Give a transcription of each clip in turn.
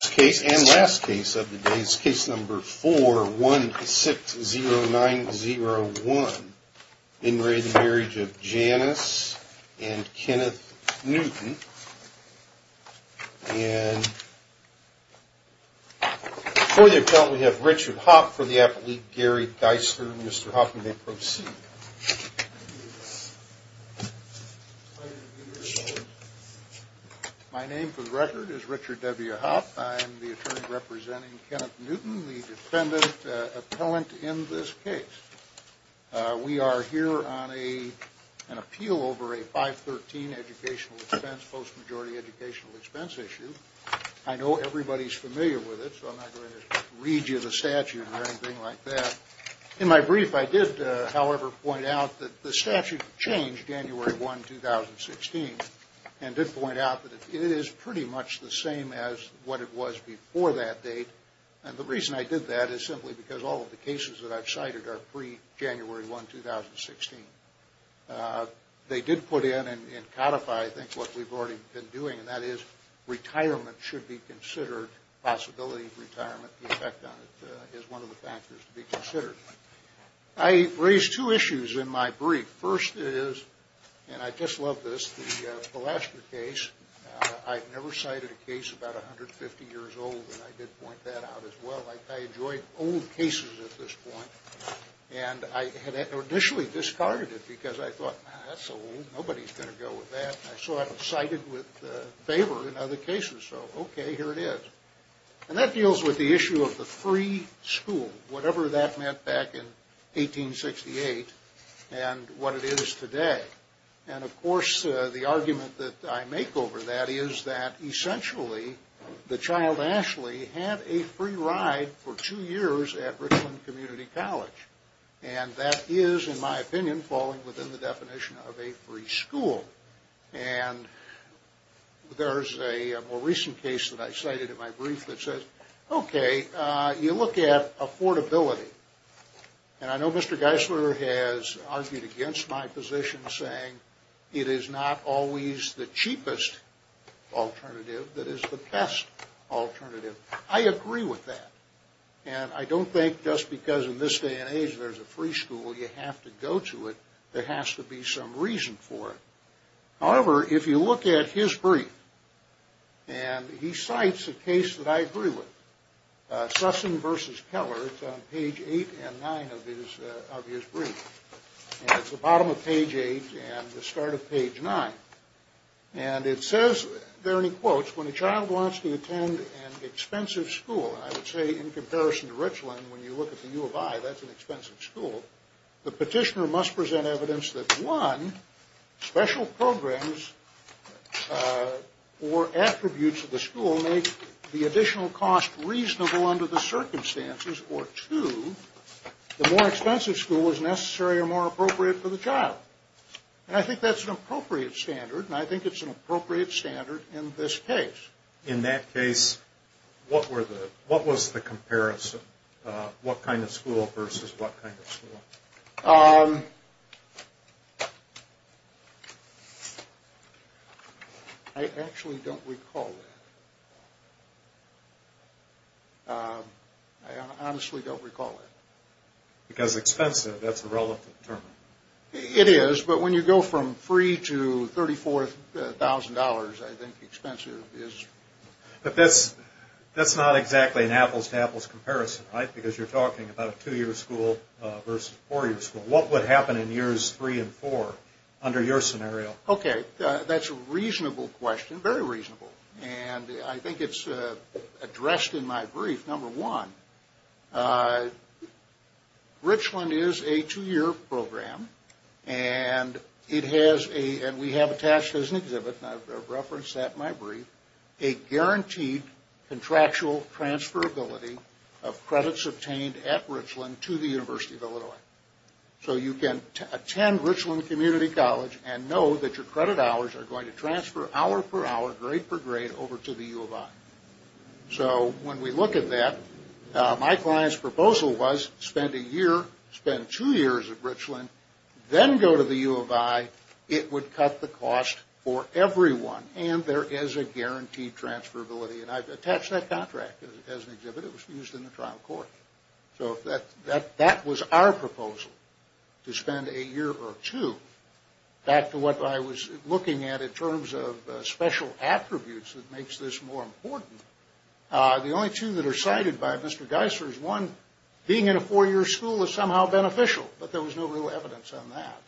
Case and last case of the day is case number 4160901 in re the marriage of Janice and Kenneth Newton. And for the appellant we have Richard Hopp for the appellate Gary Dysker. Mr. Hopp, you may proceed. My name for the record is Richard W. Hopp. I am the attorney representing Kenneth Newton, the defendant appellant in this case. We are here on an appeal over a 513 educational expense, post-majority educational expense issue. I know everybody's familiar with it, so I'm not going to read you the statute or anything like that. In my brief, I did, however, point out that the statute changed January 1, 2016 and did point out that it is pretty much the same as what it was before that date. And the reason I did that is simply because all of the cases that I've cited are pre-January 1, 2016. They did put in and codify, I think, what we've already been doing, and that is retirement should be considered, possibility of retirement, the effect on it is one of the factors to be considered. I raised two issues in my brief. First is, and I just love this, the Pulaski case. I've never cited a case about 150 years old, and I did point that out as well. I enjoyed old cases at this point, and I had initially discarded it because I thought, that's old, nobody's going to go with that. I saw it cited with favor in other cases, so okay, here it is. And that deals with the issue of the free school, whatever that meant back in 1868 and what it is today. And of course, the argument that I make over that is that essentially, the child, Ashley, had a free ride for two years at Richland Community College. And that is, in my opinion, falling within the definition of a free school. And there's a more recent case that I cited in my brief that says, okay, you look at affordability. And I know Mr. Geisler has argued against my position, saying it is not always the cheapest alternative that is the best alternative. I agree with that. And I don't think just because in this day and age there's a free school, you have to go to it, there has to be some reason for it. However, if you look at his brief, and he cites a case that I agree with, Sussing v. Keller, it's on page 8 and 9 of his brief. And it's the bottom of page 8 and the start of page 9. And it says, there in quotes, when a child wants to attend an expensive school, I would say in comparison to Richland, when you look at the U of I, that's an expensive school, the petitioner must present evidence that, one, special programs or attributes of the school make the additional cost reasonable under the circumstances, or two, the more expensive school is necessary or more appropriate for the child. And I think that's an appropriate standard, and I think it's an appropriate standard in this case. In that case, what was the comparison? What kind of school versus what kind of school? I actually don't recall that. I honestly don't recall that. Because expensive, that's a relevant term. It is, but when you go from free to $34,000, I think expensive is... But that's not exactly an apples-to-apples comparison, right? Because you're talking about a two-year school versus a four-year school. What would happen in years three and four under your scenario? Okay, that's a reasonable question, very reasonable. And I think it's addressed in my brief. Number one, Richland is a two-year program, and we have attached as an exhibit, and I've referenced that in my brief, a guaranteed contractual transferability of credits obtained at Richland to the University of Illinois. So you can attend Richland Community College and know that your credit hours are going to transfer hour-per-hour, grade-per-grade, over to the U of I. So when we look at that, my client's proposal was spend a year, spend two years at Richland, then go to the U of I. It would cut the cost for everyone, and there is a guaranteed transferability. And I've attached that contract as an exhibit. It was used in the trial court. So that was our proposal, to spend a year or two. Back to what I was looking at in terms of special attributes that makes this more important, the only two that are cited by Mr. Geisler is one, being in a four-year school is somehow beneficial. But there was no real evidence on that.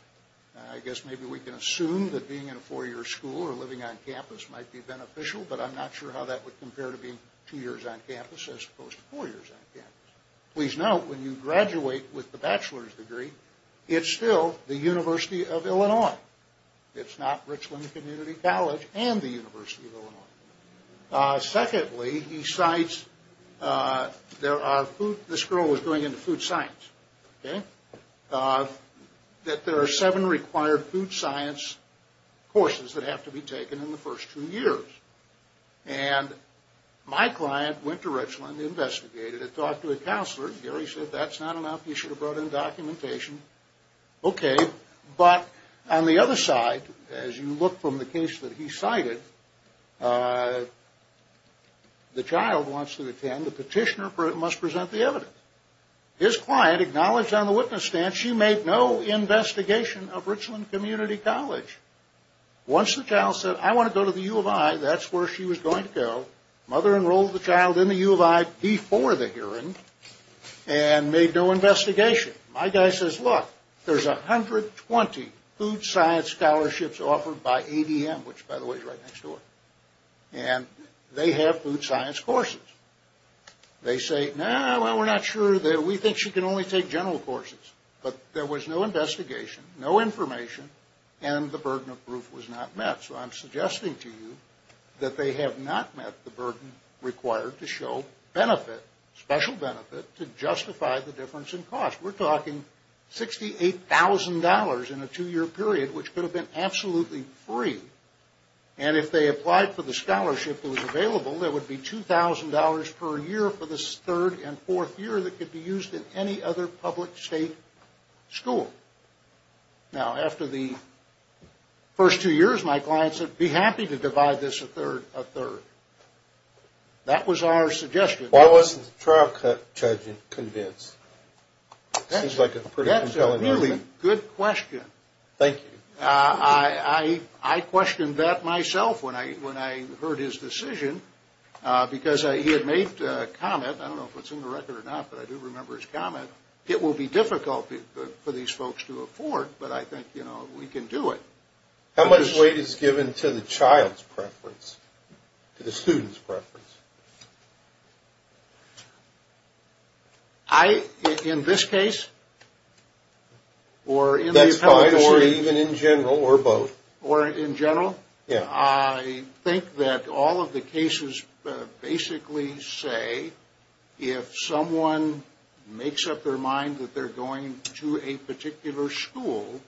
I guess maybe we can assume that being in a four-year school or living on campus might be beneficial, but I'm not sure how that would compare to being two years on campus as opposed to four years on campus. Please note, when you graduate with a bachelor's degree, it's still the University of Illinois. It's not Richland Community College and the University of Illinois. Secondly, he cites, this girl was going into food science. That there are seven required food science courses that have to be taken in the first two years. And my client went to Richland, investigated it, talked to a counselor. Gary said, that's not enough, you should have brought in documentation. Okay, but on the other side, as you look from the case that he cited, the child wants to attend, the petitioner must present the evidence. His client acknowledged on the witness stand, she made no investigation of Richland Community College. Once the child said, I want to go to the U of I, that's where she was going to go. Mother enrolled the child in the U of I before the hearing and made no investigation. My guy says, look, there's 120 food science scholarships offered by ADM, which by the way is right next door. And they have food science courses. They say, no, we're not sure, we think she can only take general courses. But there was no investigation, no information, and the burden of proof was not met. So I'm suggesting to you that they have not met the burden required to show benefit, special benefit, to justify the difference in cost. We're talking $68,000 in a two-year period, which could have been absolutely free. And if they applied for the scholarship that was available, there would be $2,000 per year for the third and fourth year that could be used in any other public state school. Now, after the first two years, my client said, be happy to divide this a third. That was our suggestion. Why wasn't the trial judge convinced? That's a really good question. Thank you. I questioned that myself when I heard his decision because he had made a comment. I don't know if it's in the record or not, but I do remember his comment. It will be difficult for these folks to afford, but I think, you know, we can do it. How much weight is given to the child's preference, to the student's preference? I, in this case, or in the appellate court. That's fine, or even in general, or both. Or in general? Yeah. I think that all of the cases basically say if someone makes up their mind that they're going to a particular school,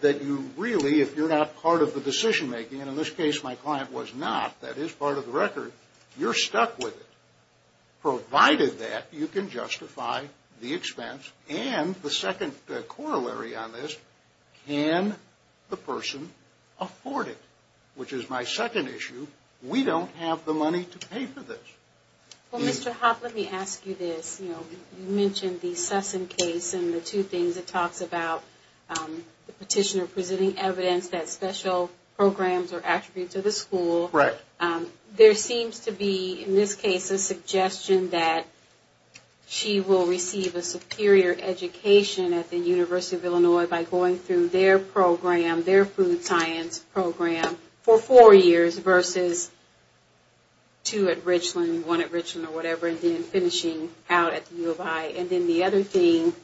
that you really, if you're not part of the decision-making, and in this case my client was not, that is part of the record, you're stuck with it, provided that you can justify the expense and the second corollary on this, can the person afford it, which is my second issue. We don't have the money to pay for this. Well, Mr. Hoppe, let me ask you this. You mentioned the Sessom case and the two things it talks about, the petitioner presenting evidence that special programs are attributes of the school. Right. There seems to be, in this case, a suggestion that she will receive a superior education at the University of Illinois by going through their program, their food science program, for four years versus two at Richland, one at Richland or whatever, and then finishing out at the U of I. And then the other thing,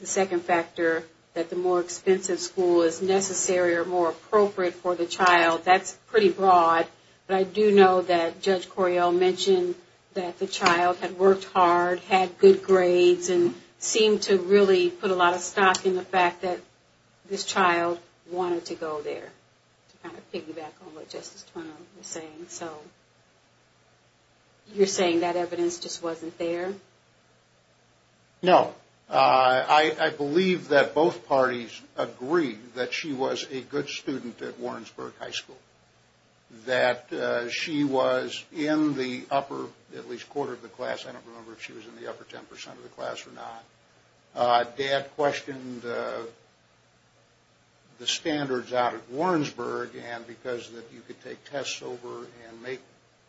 the second factor, that the more expensive school is necessary or more appropriate for the child, that's pretty broad. But I do know that Judge Coryell mentioned that the child had worked hard, had good grades, and seemed to really put a lot of stock in the fact that this child wanted to go there, to kind of piggyback on what Justice Twinell was saying. So you're saying that evidence just wasn't there? No. I believe that both parties agree that she was a good student at Warrensburg High School, that she was in the upper at least quarter of the class. I don't remember if she was in the upper 10 percent of the class or not. Dad questioned the standards out at Warrensburg and because you could take tests over and make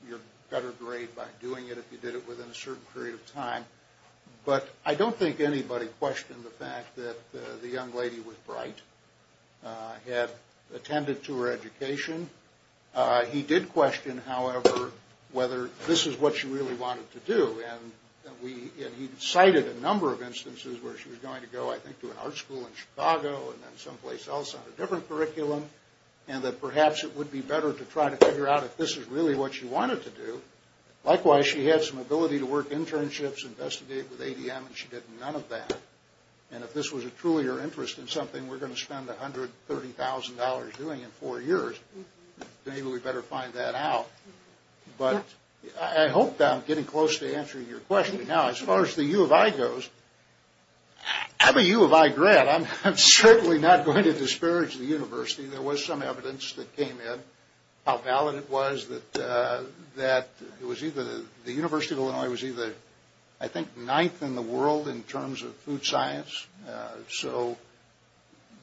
your better grade by doing it if you did it within a certain period of time. But I don't think anybody questioned the fact that the young lady was bright, had attended to her education. He did question, however, whether this is what she really wanted to do. And he cited a number of instances where she was going to go, I think, to an art school in Chicago and then someplace else on a different curriculum. And that perhaps it would be better to try to figure out if this is really what she wanted to do. Likewise, she had some ability to work internships, investigate with ADM, and she did none of that. And if this was truly her interest in something, we're going to spend $130,000 doing in four years. Maybe we better find that out. But I hope that I'm getting close to answering your question. Now, as far as the U of I goes, I'm a U of I grad. I'm certainly not going to disparage the university. There was some evidence that came in how valid it was that it was either the University of Illinois was either, I think, ninth in the world in terms of food science.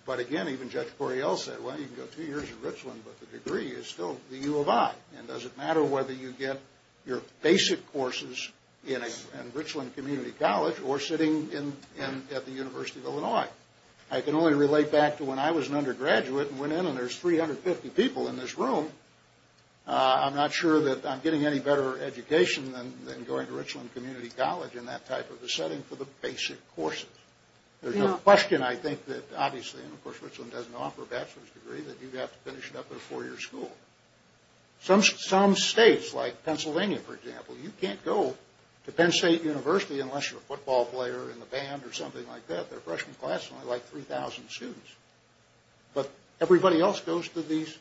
But again, even Judge Correale said, well, you can go two years at Richland, but the degree is still the U of I. And does it matter whether you get your basic courses in Richland Community College or sitting at the University of Illinois? I can only relate back to when I was an undergraduate and went in and there's 350 people in this room. I'm not sure that I'm getting any better education than going to Richland Community College in that type of a setting for the basic courses. There's no question, I think, that obviously, and of course, Richland doesn't offer a bachelor's degree, that you have to finish it up at a four-year school. Some states, like Pennsylvania, for example, you can't go to Penn State University unless you're a football player in the band or something like that. Their freshman class is only like 3,000 students. But everybody else goes to these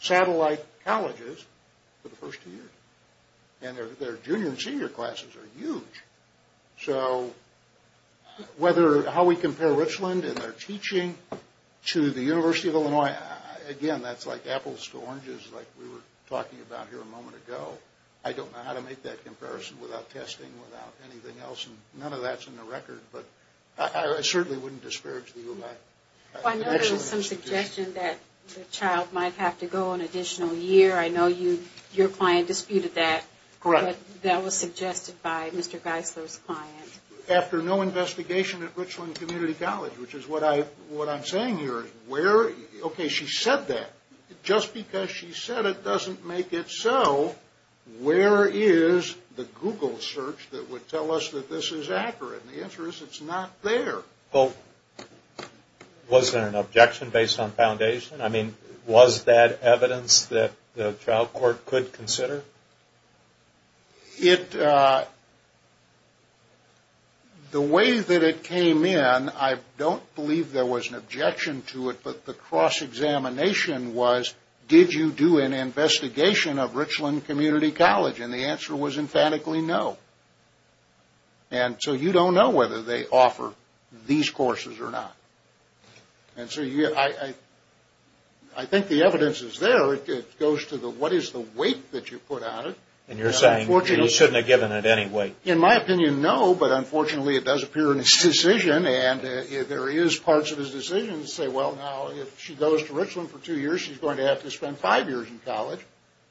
satellite colleges for the first two years. And their junior and senior classes are huge. So how we compare Richland and their teaching to the University of Illinois, again, that's like apples to oranges, like we were talking about here a moment ago. I don't know how to make that comparison without testing, without anything else, and none of that's in the record. But I certainly wouldn't disparage the U of I. Well, I know there was some suggestion that the child might have to go an additional year. I know your client disputed that. Correct. But that was suggested by Mr. Geisler's client. After no investigation at Richland Community College, which is what I'm saying here, where – okay, she said that. Just because she said it doesn't make it so, where is the Google search that would tell us that this is accurate? And the answer is it's not there. Well, was there an objection based on foundation? I mean, was that evidence that the trial court could consider? It – the way that it came in, I don't believe there was an objection to it, but the cross-examination was, did you do an investigation of Richland Community College? And the answer was emphatically no. And so you don't know whether they offer these courses or not. And so you – I think the evidence is there. It goes to the what is the weight that you put on it. And you're saying you shouldn't have given it any weight. In my opinion, no, but unfortunately it does appear in his decision, and there is parts of his decision that say, well, now if she goes to Richland for two years, she's going to have to spend five years in college,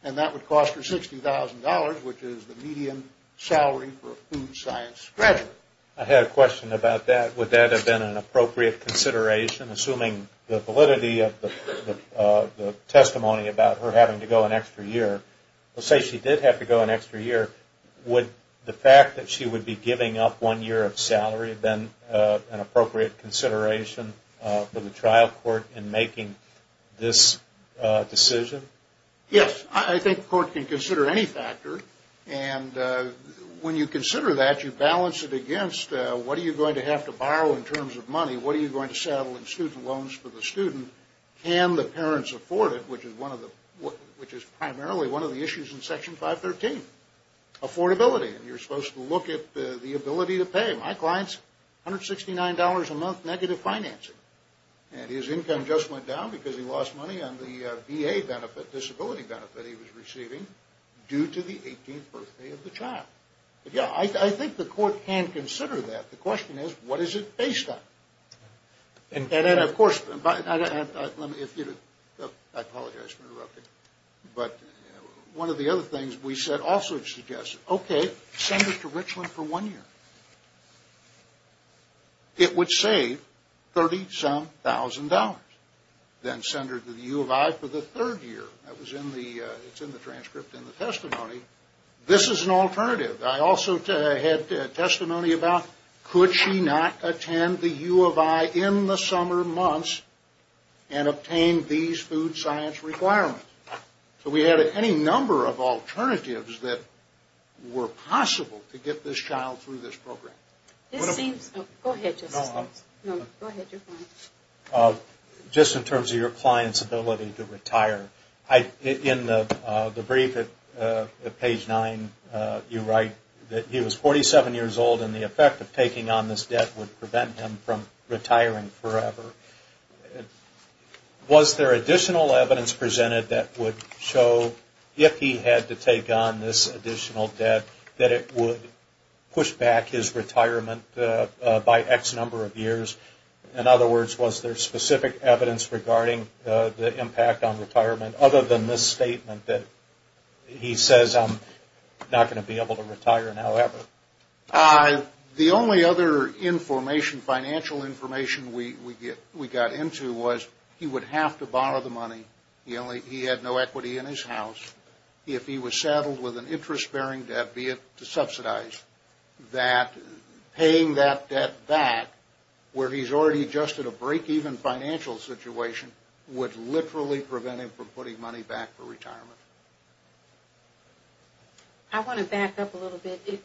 and that would cost her $60,000, which is the median salary for a food science graduate. I had a question about that. Would that have been an appropriate consideration, assuming the validity of the testimony about her having to go an extra year? Let's say she did have to go an extra year. Would the fact that she would be giving up one year of salary have been an appropriate consideration for the trial court in making this decision? Yes, I think the court can consider any factor. And when you consider that, you balance it against what are you going to have to borrow in terms of money, what are you going to saddle in student loans for the student, can the parents afford it, which is primarily one of the issues in Section 513. Affordability, and you're supposed to look at the ability to pay. My client's $169 a month negative financing, and his income just went down because he lost money on the VA benefit, disability benefit he was receiving due to the 18th birthday of the child. Yeah, I think the court can consider that. The question is, what is it based on? And of course, I apologize for interrupting, but one of the other things we said also suggests, okay, send her to Richland for one year. It would save $37,000. Then send her to the U of I for the third year. It's in the transcript in the testimony. This is an alternative. I also had testimony about could she not attend the U of I in the summer months and obtain these food science requirements? So we had any number of alternatives that were possible to get this child through this program. Go ahead, just in terms of your client's ability to retire. In the brief at page 9, you write that he was 47 years old and the effect of taking on this debt would prevent him from retiring forever. Was there additional evidence presented that would show if he had to take on this additional debt that it would push back his retirement by X number of years? In other words, was there specific evidence regarding the impact on retirement, other than this statement that he says I'm not going to be able to retire now ever? The only other information, financial information, we got into was he would have to borrow the money. He had no equity in his house. If he was saddled with an interest-bearing debt, be it to subsidize, that paying that debt back where he's already adjusted a break-even financial situation would literally prevent him from putting money back for retirement. I want to back up a little bit.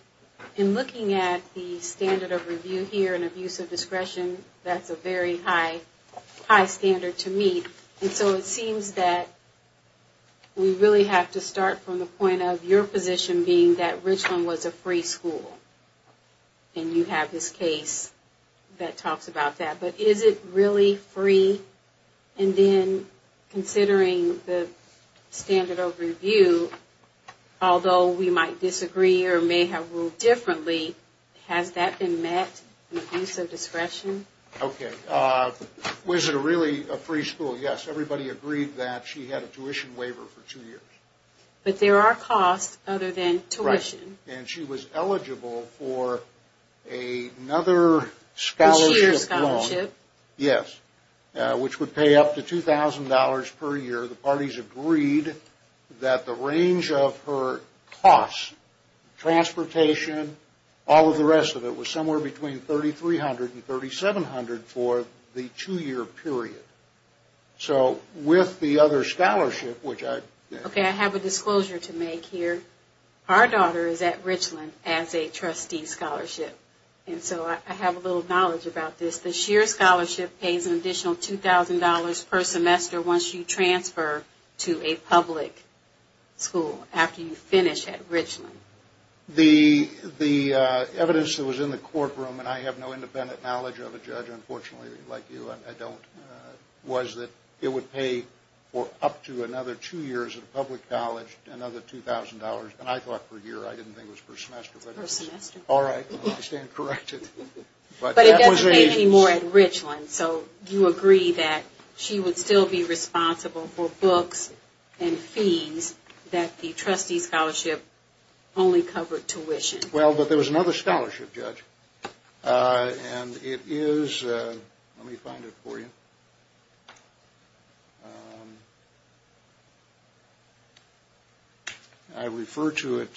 In looking at the standard of review here and abuse of discretion, that's a very high standard to meet. And so it seems that we really have to start from the point of your position being that Richland was a free school. And you have this case that talks about that. But is it really free? And then considering the standard of review, although we might disagree or may have ruled differently, has that been met in abuse of discretion? Okay. Was it really a free school? Yes. Everybody agreed that she had a tuition waiver for two years. But there are costs other than tuition. And she was eligible for another scholarship loan. A two-year scholarship. Yes, which would pay up to $2,000 per year. The parties agreed that the range of her costs, transportation, all of the rest of it, was somewhere between $3,300 and $3,700 for the two-year period. So with the other scholarship, which I... Okay. I have a disclosure to make here. Our daughter is at Richland as a trustee scholarship. And so I have a little knowledge about this. The sheer scholarship pays an additional $2,000 per semester once you transfer to a public school after you finish at Richland. The evidence that was in the courtroom, and I have no independent knowledge of a judge, unfortunately, like you, I don't, was that it would pay for up to another two years at a public college another $2,000. And I thought per year. I didn't think it was per semester. Per semester. All right. I stand corrected. But it does pay more at Richland. So you agree that she would still be responsible for books and fees that the trustee scholarship only covered tuition. Well, but there was another scholarship, Judge. And it is... Let me find it for you. I refer to it.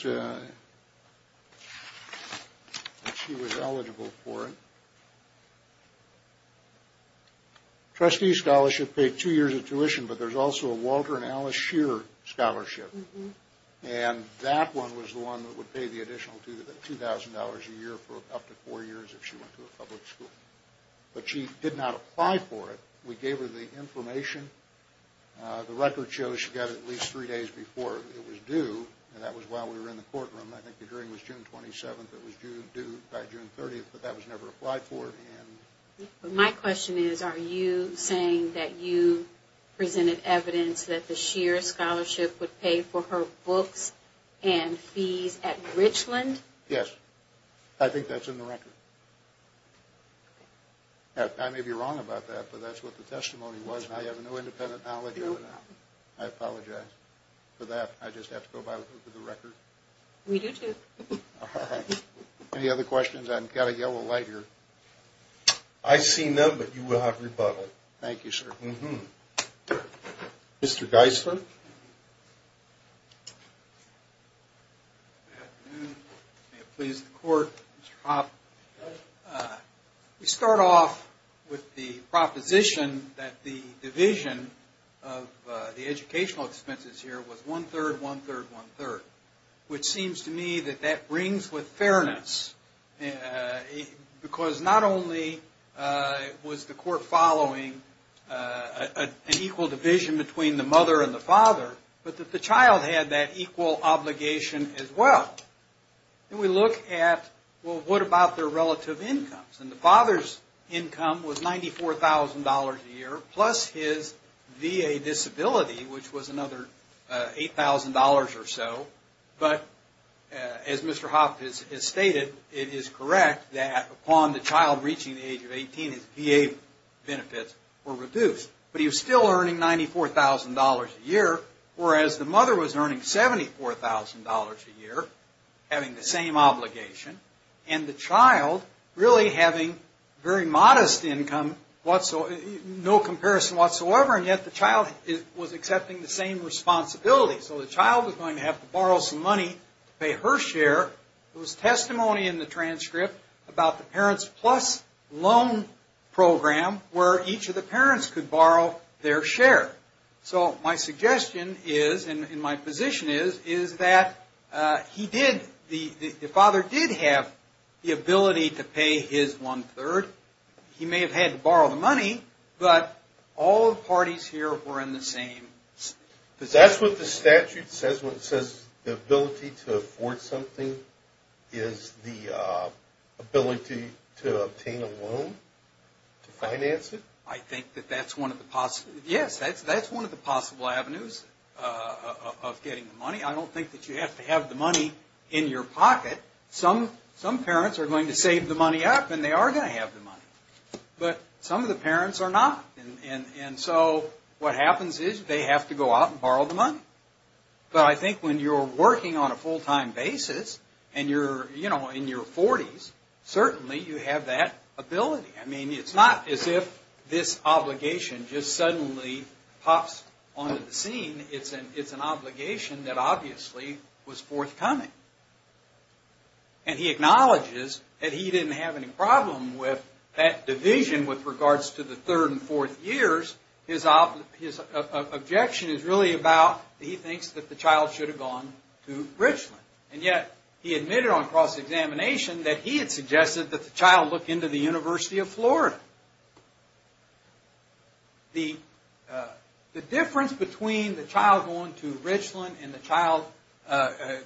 She was eligible for it. Trustee scholarship paid two years of tuition, but there's also a Walter and Alice Shear scholarship. And that one was the one that would pay the additional $2,000 a year for up to four years if she went to a public school. But she did not apply for it. We gave her the information. The record shows she got it at least three days before it was due, and that was while we were in the courtroom. I think the hearing was June 27th. It was due by June 30th, but that was never applied for. My question is, are you saying that you presented evidence that the Shear scholarship would pay for her books and fees at Richland? Yes. I think that's in the record. I may be wrong about that, but that's what the testimony was, and I have no independent knowledge of it. I apologize for that. I just have to go by the record. We do, too. All right. Any other questions? I've got a yellow light here. I see none, but you will have rebuttal. Thank you, sir. Mr. Geisler? Good afternoon. May it please the Court, Mr. Hoppe. We start off with the proposition that the division of the educational expenses here was one-third, one-third, one-third, which seems to me that that rings with fairness because not only was the Court following an equal division between the mother and the father, but that the child had that equal obligation as well. And we look at, well, what about their relative incomes? And the father's income was $94,000 a year plus his VA disability, which was another $8,000 or so. But as Mr. Hoppe has stated, it is correct that upon the child reaching the age of 18, his VA benefits were reduced. But he was still earning $94,000 a year, whereas the mother was earning $74,000 a year, having the same obligation, and the child really having very modest income, no comparison whatsoever, and yet the child was accepting the same responsibility. So the child was going to have to borrow some money to pay her share. There was testimony in the transcript about the Parents Plus Loan Program where each of the parents could borrow their share. So my suggestion is, and my position is, is that he did, the father did have the ability to pay his one-third. He may have had to borrow the money, but all the parties here were in the same. Does that's what the statute says when it says the ability to afford something is the ability to obtain a loan to finance it? I think that that's one of the possible, yes, that's one of the possible avenues of getting the money. I don't think that you have to have the money in your pocket. Some parents are going to save the money up, and they are going to have the money, but some of the parents are not. And so what happens is they have to go out and borrow the money. But I think when you're working on a full-time basis and you're, you know, in your 40s, certainly you have that ability. I mean, it's not as if this obligation just suddenly pops onto the scene. It's an obligation that obviously was forthcoming. And he acknowledges that he didn't have any problem with that division with regards to the third and fourth years. His objection is really about, he thinks that the child should have gone to Richland. And yet he admitted on cross-examination that he had suggested that the child look into the University of Florida. The difference between the child going to Richland and the child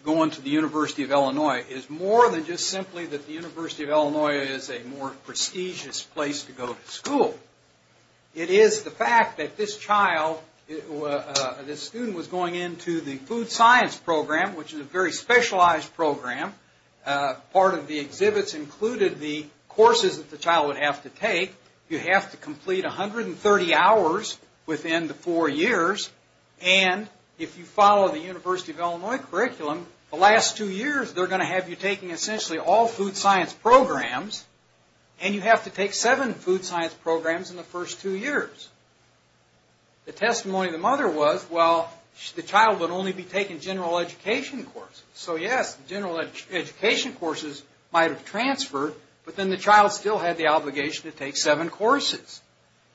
going to the University of Illinois is more than just simply that the University of Illinois is a more prestigious place to go to school. It is the fact that this child, this student was going into the food science program, which is a very specialized program. Part of the exhibits included the courses that the child would have to take. You have to complete 130 hours within the four years. And if you follow the University of Illinois curriculum, the last two years, they're going to have you taking essentially all food science programs. And you have to take seven food science programs in the first two years. The testimony of the mother was, well, the child would only be taking general education courses. So yes, general education courses might have transferred, but then the child still had the obligation to take seven courses.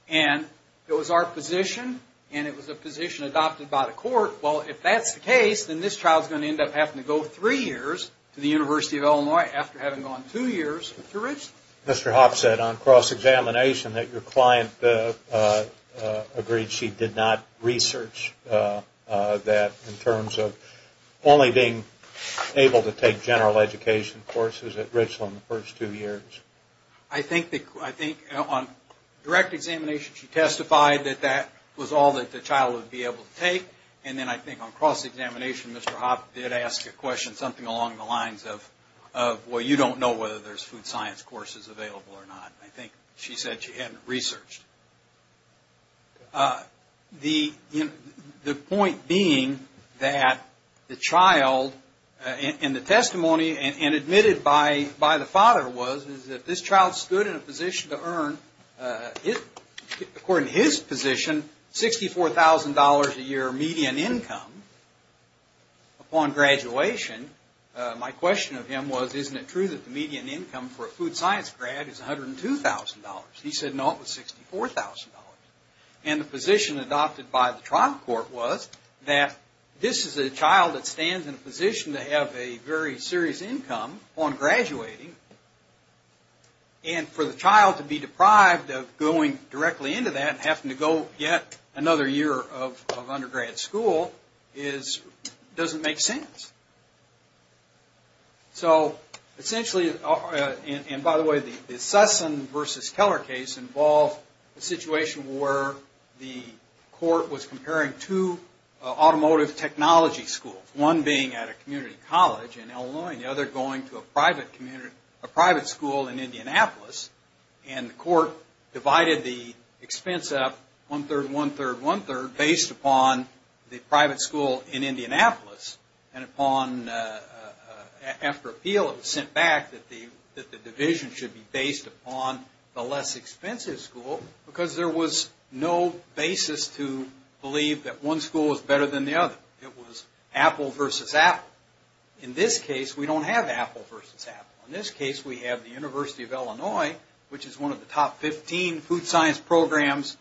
And it was our position, and it was a position adopted by the court, well, if that's the case, then this child is going to end up having to go three years to the University of Illinois after having gone two years to Richland. Mr. Hopps said on cross-examination that your client agreed she did not research that in terms of only being able to take general education courses at Richland the first two years. I think on direct examination she testified that that was all that the child would be able to take. And then I think on cross-examination Mr. Hopps did ask a question, something along the lines of, well, you don't know whether there's food science courses available or not. I think she said she hadn't researched. The point being that the child in the testimony and admitted by the father was that this child stood in a position to earn, according to his position, $64,000 a year median income. Upon graduation, my question of him was, isn't it true that the median income for a food science grad is $102,000? He said, no, it was $64,000. And the position adopted by the trial court was that this is a child that stands in a position to have a very serious income upon graduating, and for the child to be deprived of going directly into that, and having to go get another year of undergrad school, doesn't make sense. So essentially, and by the way, the Sussan v. Keller case involved a situation where the court was comparing two automotive technology schools, one being at a community college in Illinois and the other going to a private school in Indianapolis. And the court divided the expense up, one-third, one-third, one-third, based upon the private school in Indianapolis. And after appeal, it was sent back that the division should be based upon the less expensive school, because there was no basis to believe that one school was better than the other. It was Apple versus Apple. In this case, we don't have Apple versus Apple. In this case, we have the University of Illinois, which is one of the top 15 food science programs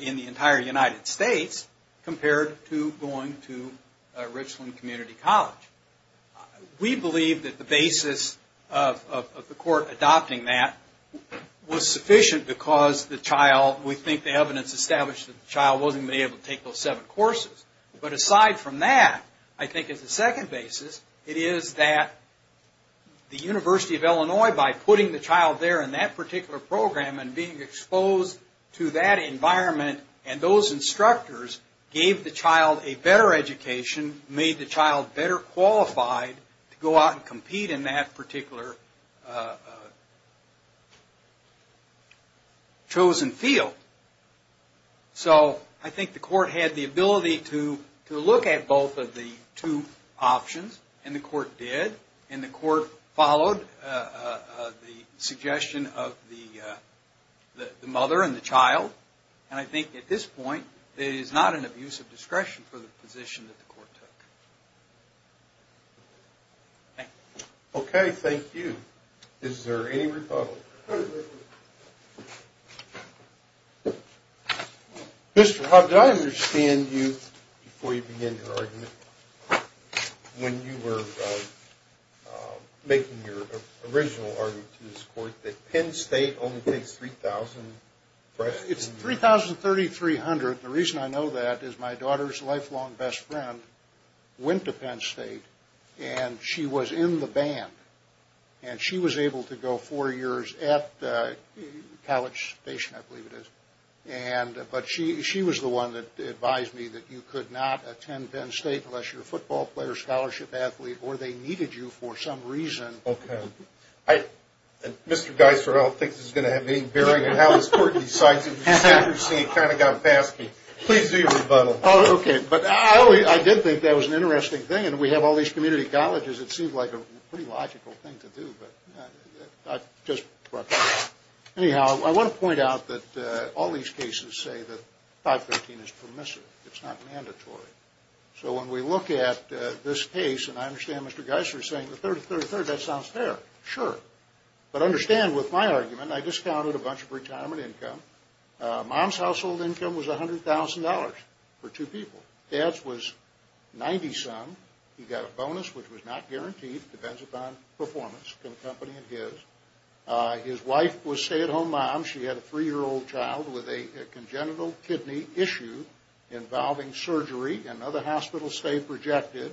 in the entire United States, compared to going to Richland Community College. We believe that the basis of the court adopting that was sufficient because the child, we think the evidence established that the child wasn't going to be able to take those seven courses. But aside from that, I think as a second basis, it is that the University of Illinois, by putting the child there in that particular program and being exposed to that environment and those instructors gave the child a better education, made the child better qualified to go out and compete in that particular chosen field. So I think the court had the ability to look at both of the two options, and the court did. And the court followed the suggestion of the mother and the child. And I think at this point, it is not an abuse of discretion for the position that the court took. Thank you. Okay, thank you. Is there any rebuttal? Mr. Hub, did I understand you, before you begin your argument, when you were making your original argument to this court that Penn State only takes 3,000 freshmen? It's 3,3300. The reason I know that is my daughter's lifelong best friend went to Penn State, and she was in the band. And she was able to go four years at the college station, I believe it is. But she was the one that advised me that you could not attend Penn State unless you're a football player, scholarship athlete, or they needed you for some reason. Okay. Mr. Geiser, I don't think this is going to have any bearing on how this court decides. It's interesting. It kind of got past me. Please do your rebuttal. Okay. But I did think that was an interesting thing. And we have all these community colleges. It seems like a pretty logical thing to do, but I just brought that up. Anyhow, I want to point out that all these cases say that 513 is permissive. It's not mandatory. So when we look at this case, and I understand Mr. Geiser is saying the third, third, third, that sounds fair. Sure. But understand with my argument, I discounted a bunch of retirement income. Mom's household income was $100,000 for two people. Dad's was 90-some. He got a bonus, which was not guaranteed. Depends upon performance in the company and his. His wife was a stay-at-home mom. She had a three-year-old child with a congenital kidney issue involving surgery. Another hospital stay rejected.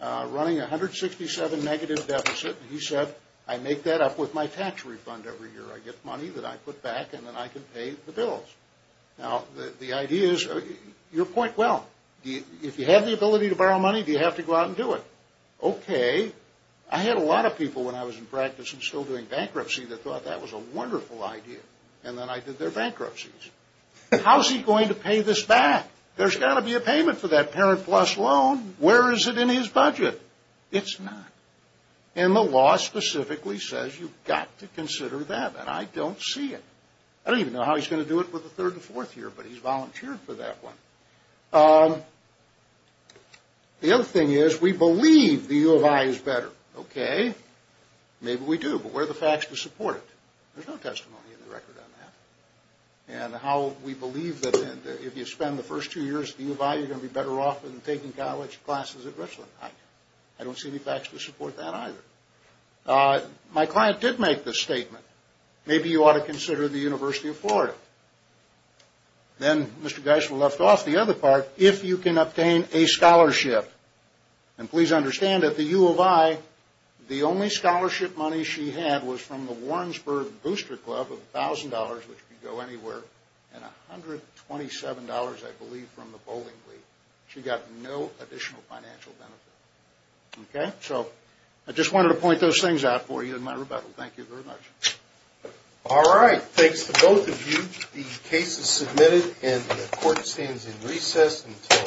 Running a 167 negative deficit. He said, I make that up with my tax refund every year. I get money that I put back, and then I can pay the bills. Now, the idea is, your point, well, if you have the ability to borrow money, do you have to go out and do it? Okay. I had a lot of people when I was in practice and still doing bankruptcy that thought that was a wonderful idea. And then I did their bankruptcies. How's he going to pay this back? There's got to be a payment for that parent plus loan. Where is it in his budget? It's not. And the law specifically says you've got to consider that, and I don't see it. I don't even know how he's going to do it with the third and fourth year, but he's volunteered for that one. The other thing is, we believe the U of I is better. Okay. Maybe we do, but where are the facts to support it? There's no testimony in the record on that. And how we believe that if you spend the first two years at the U of I, you're going to be better off than taking college classes at Richland. I don't see any facts to support that either. My client did make this statement. Maybe you ought to consider the University of Florida. Then Mr. Geisler left off the other part. If you can obtain a scholarship, and please understand that the U of I, the only scholarship money she had was from the Warrensburg Booster Club of $1,000, which could go anywhere, and $127, I believe, from the bowling league. She got no additional financial benefit. Okay. So I just wanted to point those things out for you in my rebuttal. Thank you very much. All right. Thanks to both of you. The case is submitted, and the court stands in recess until further call.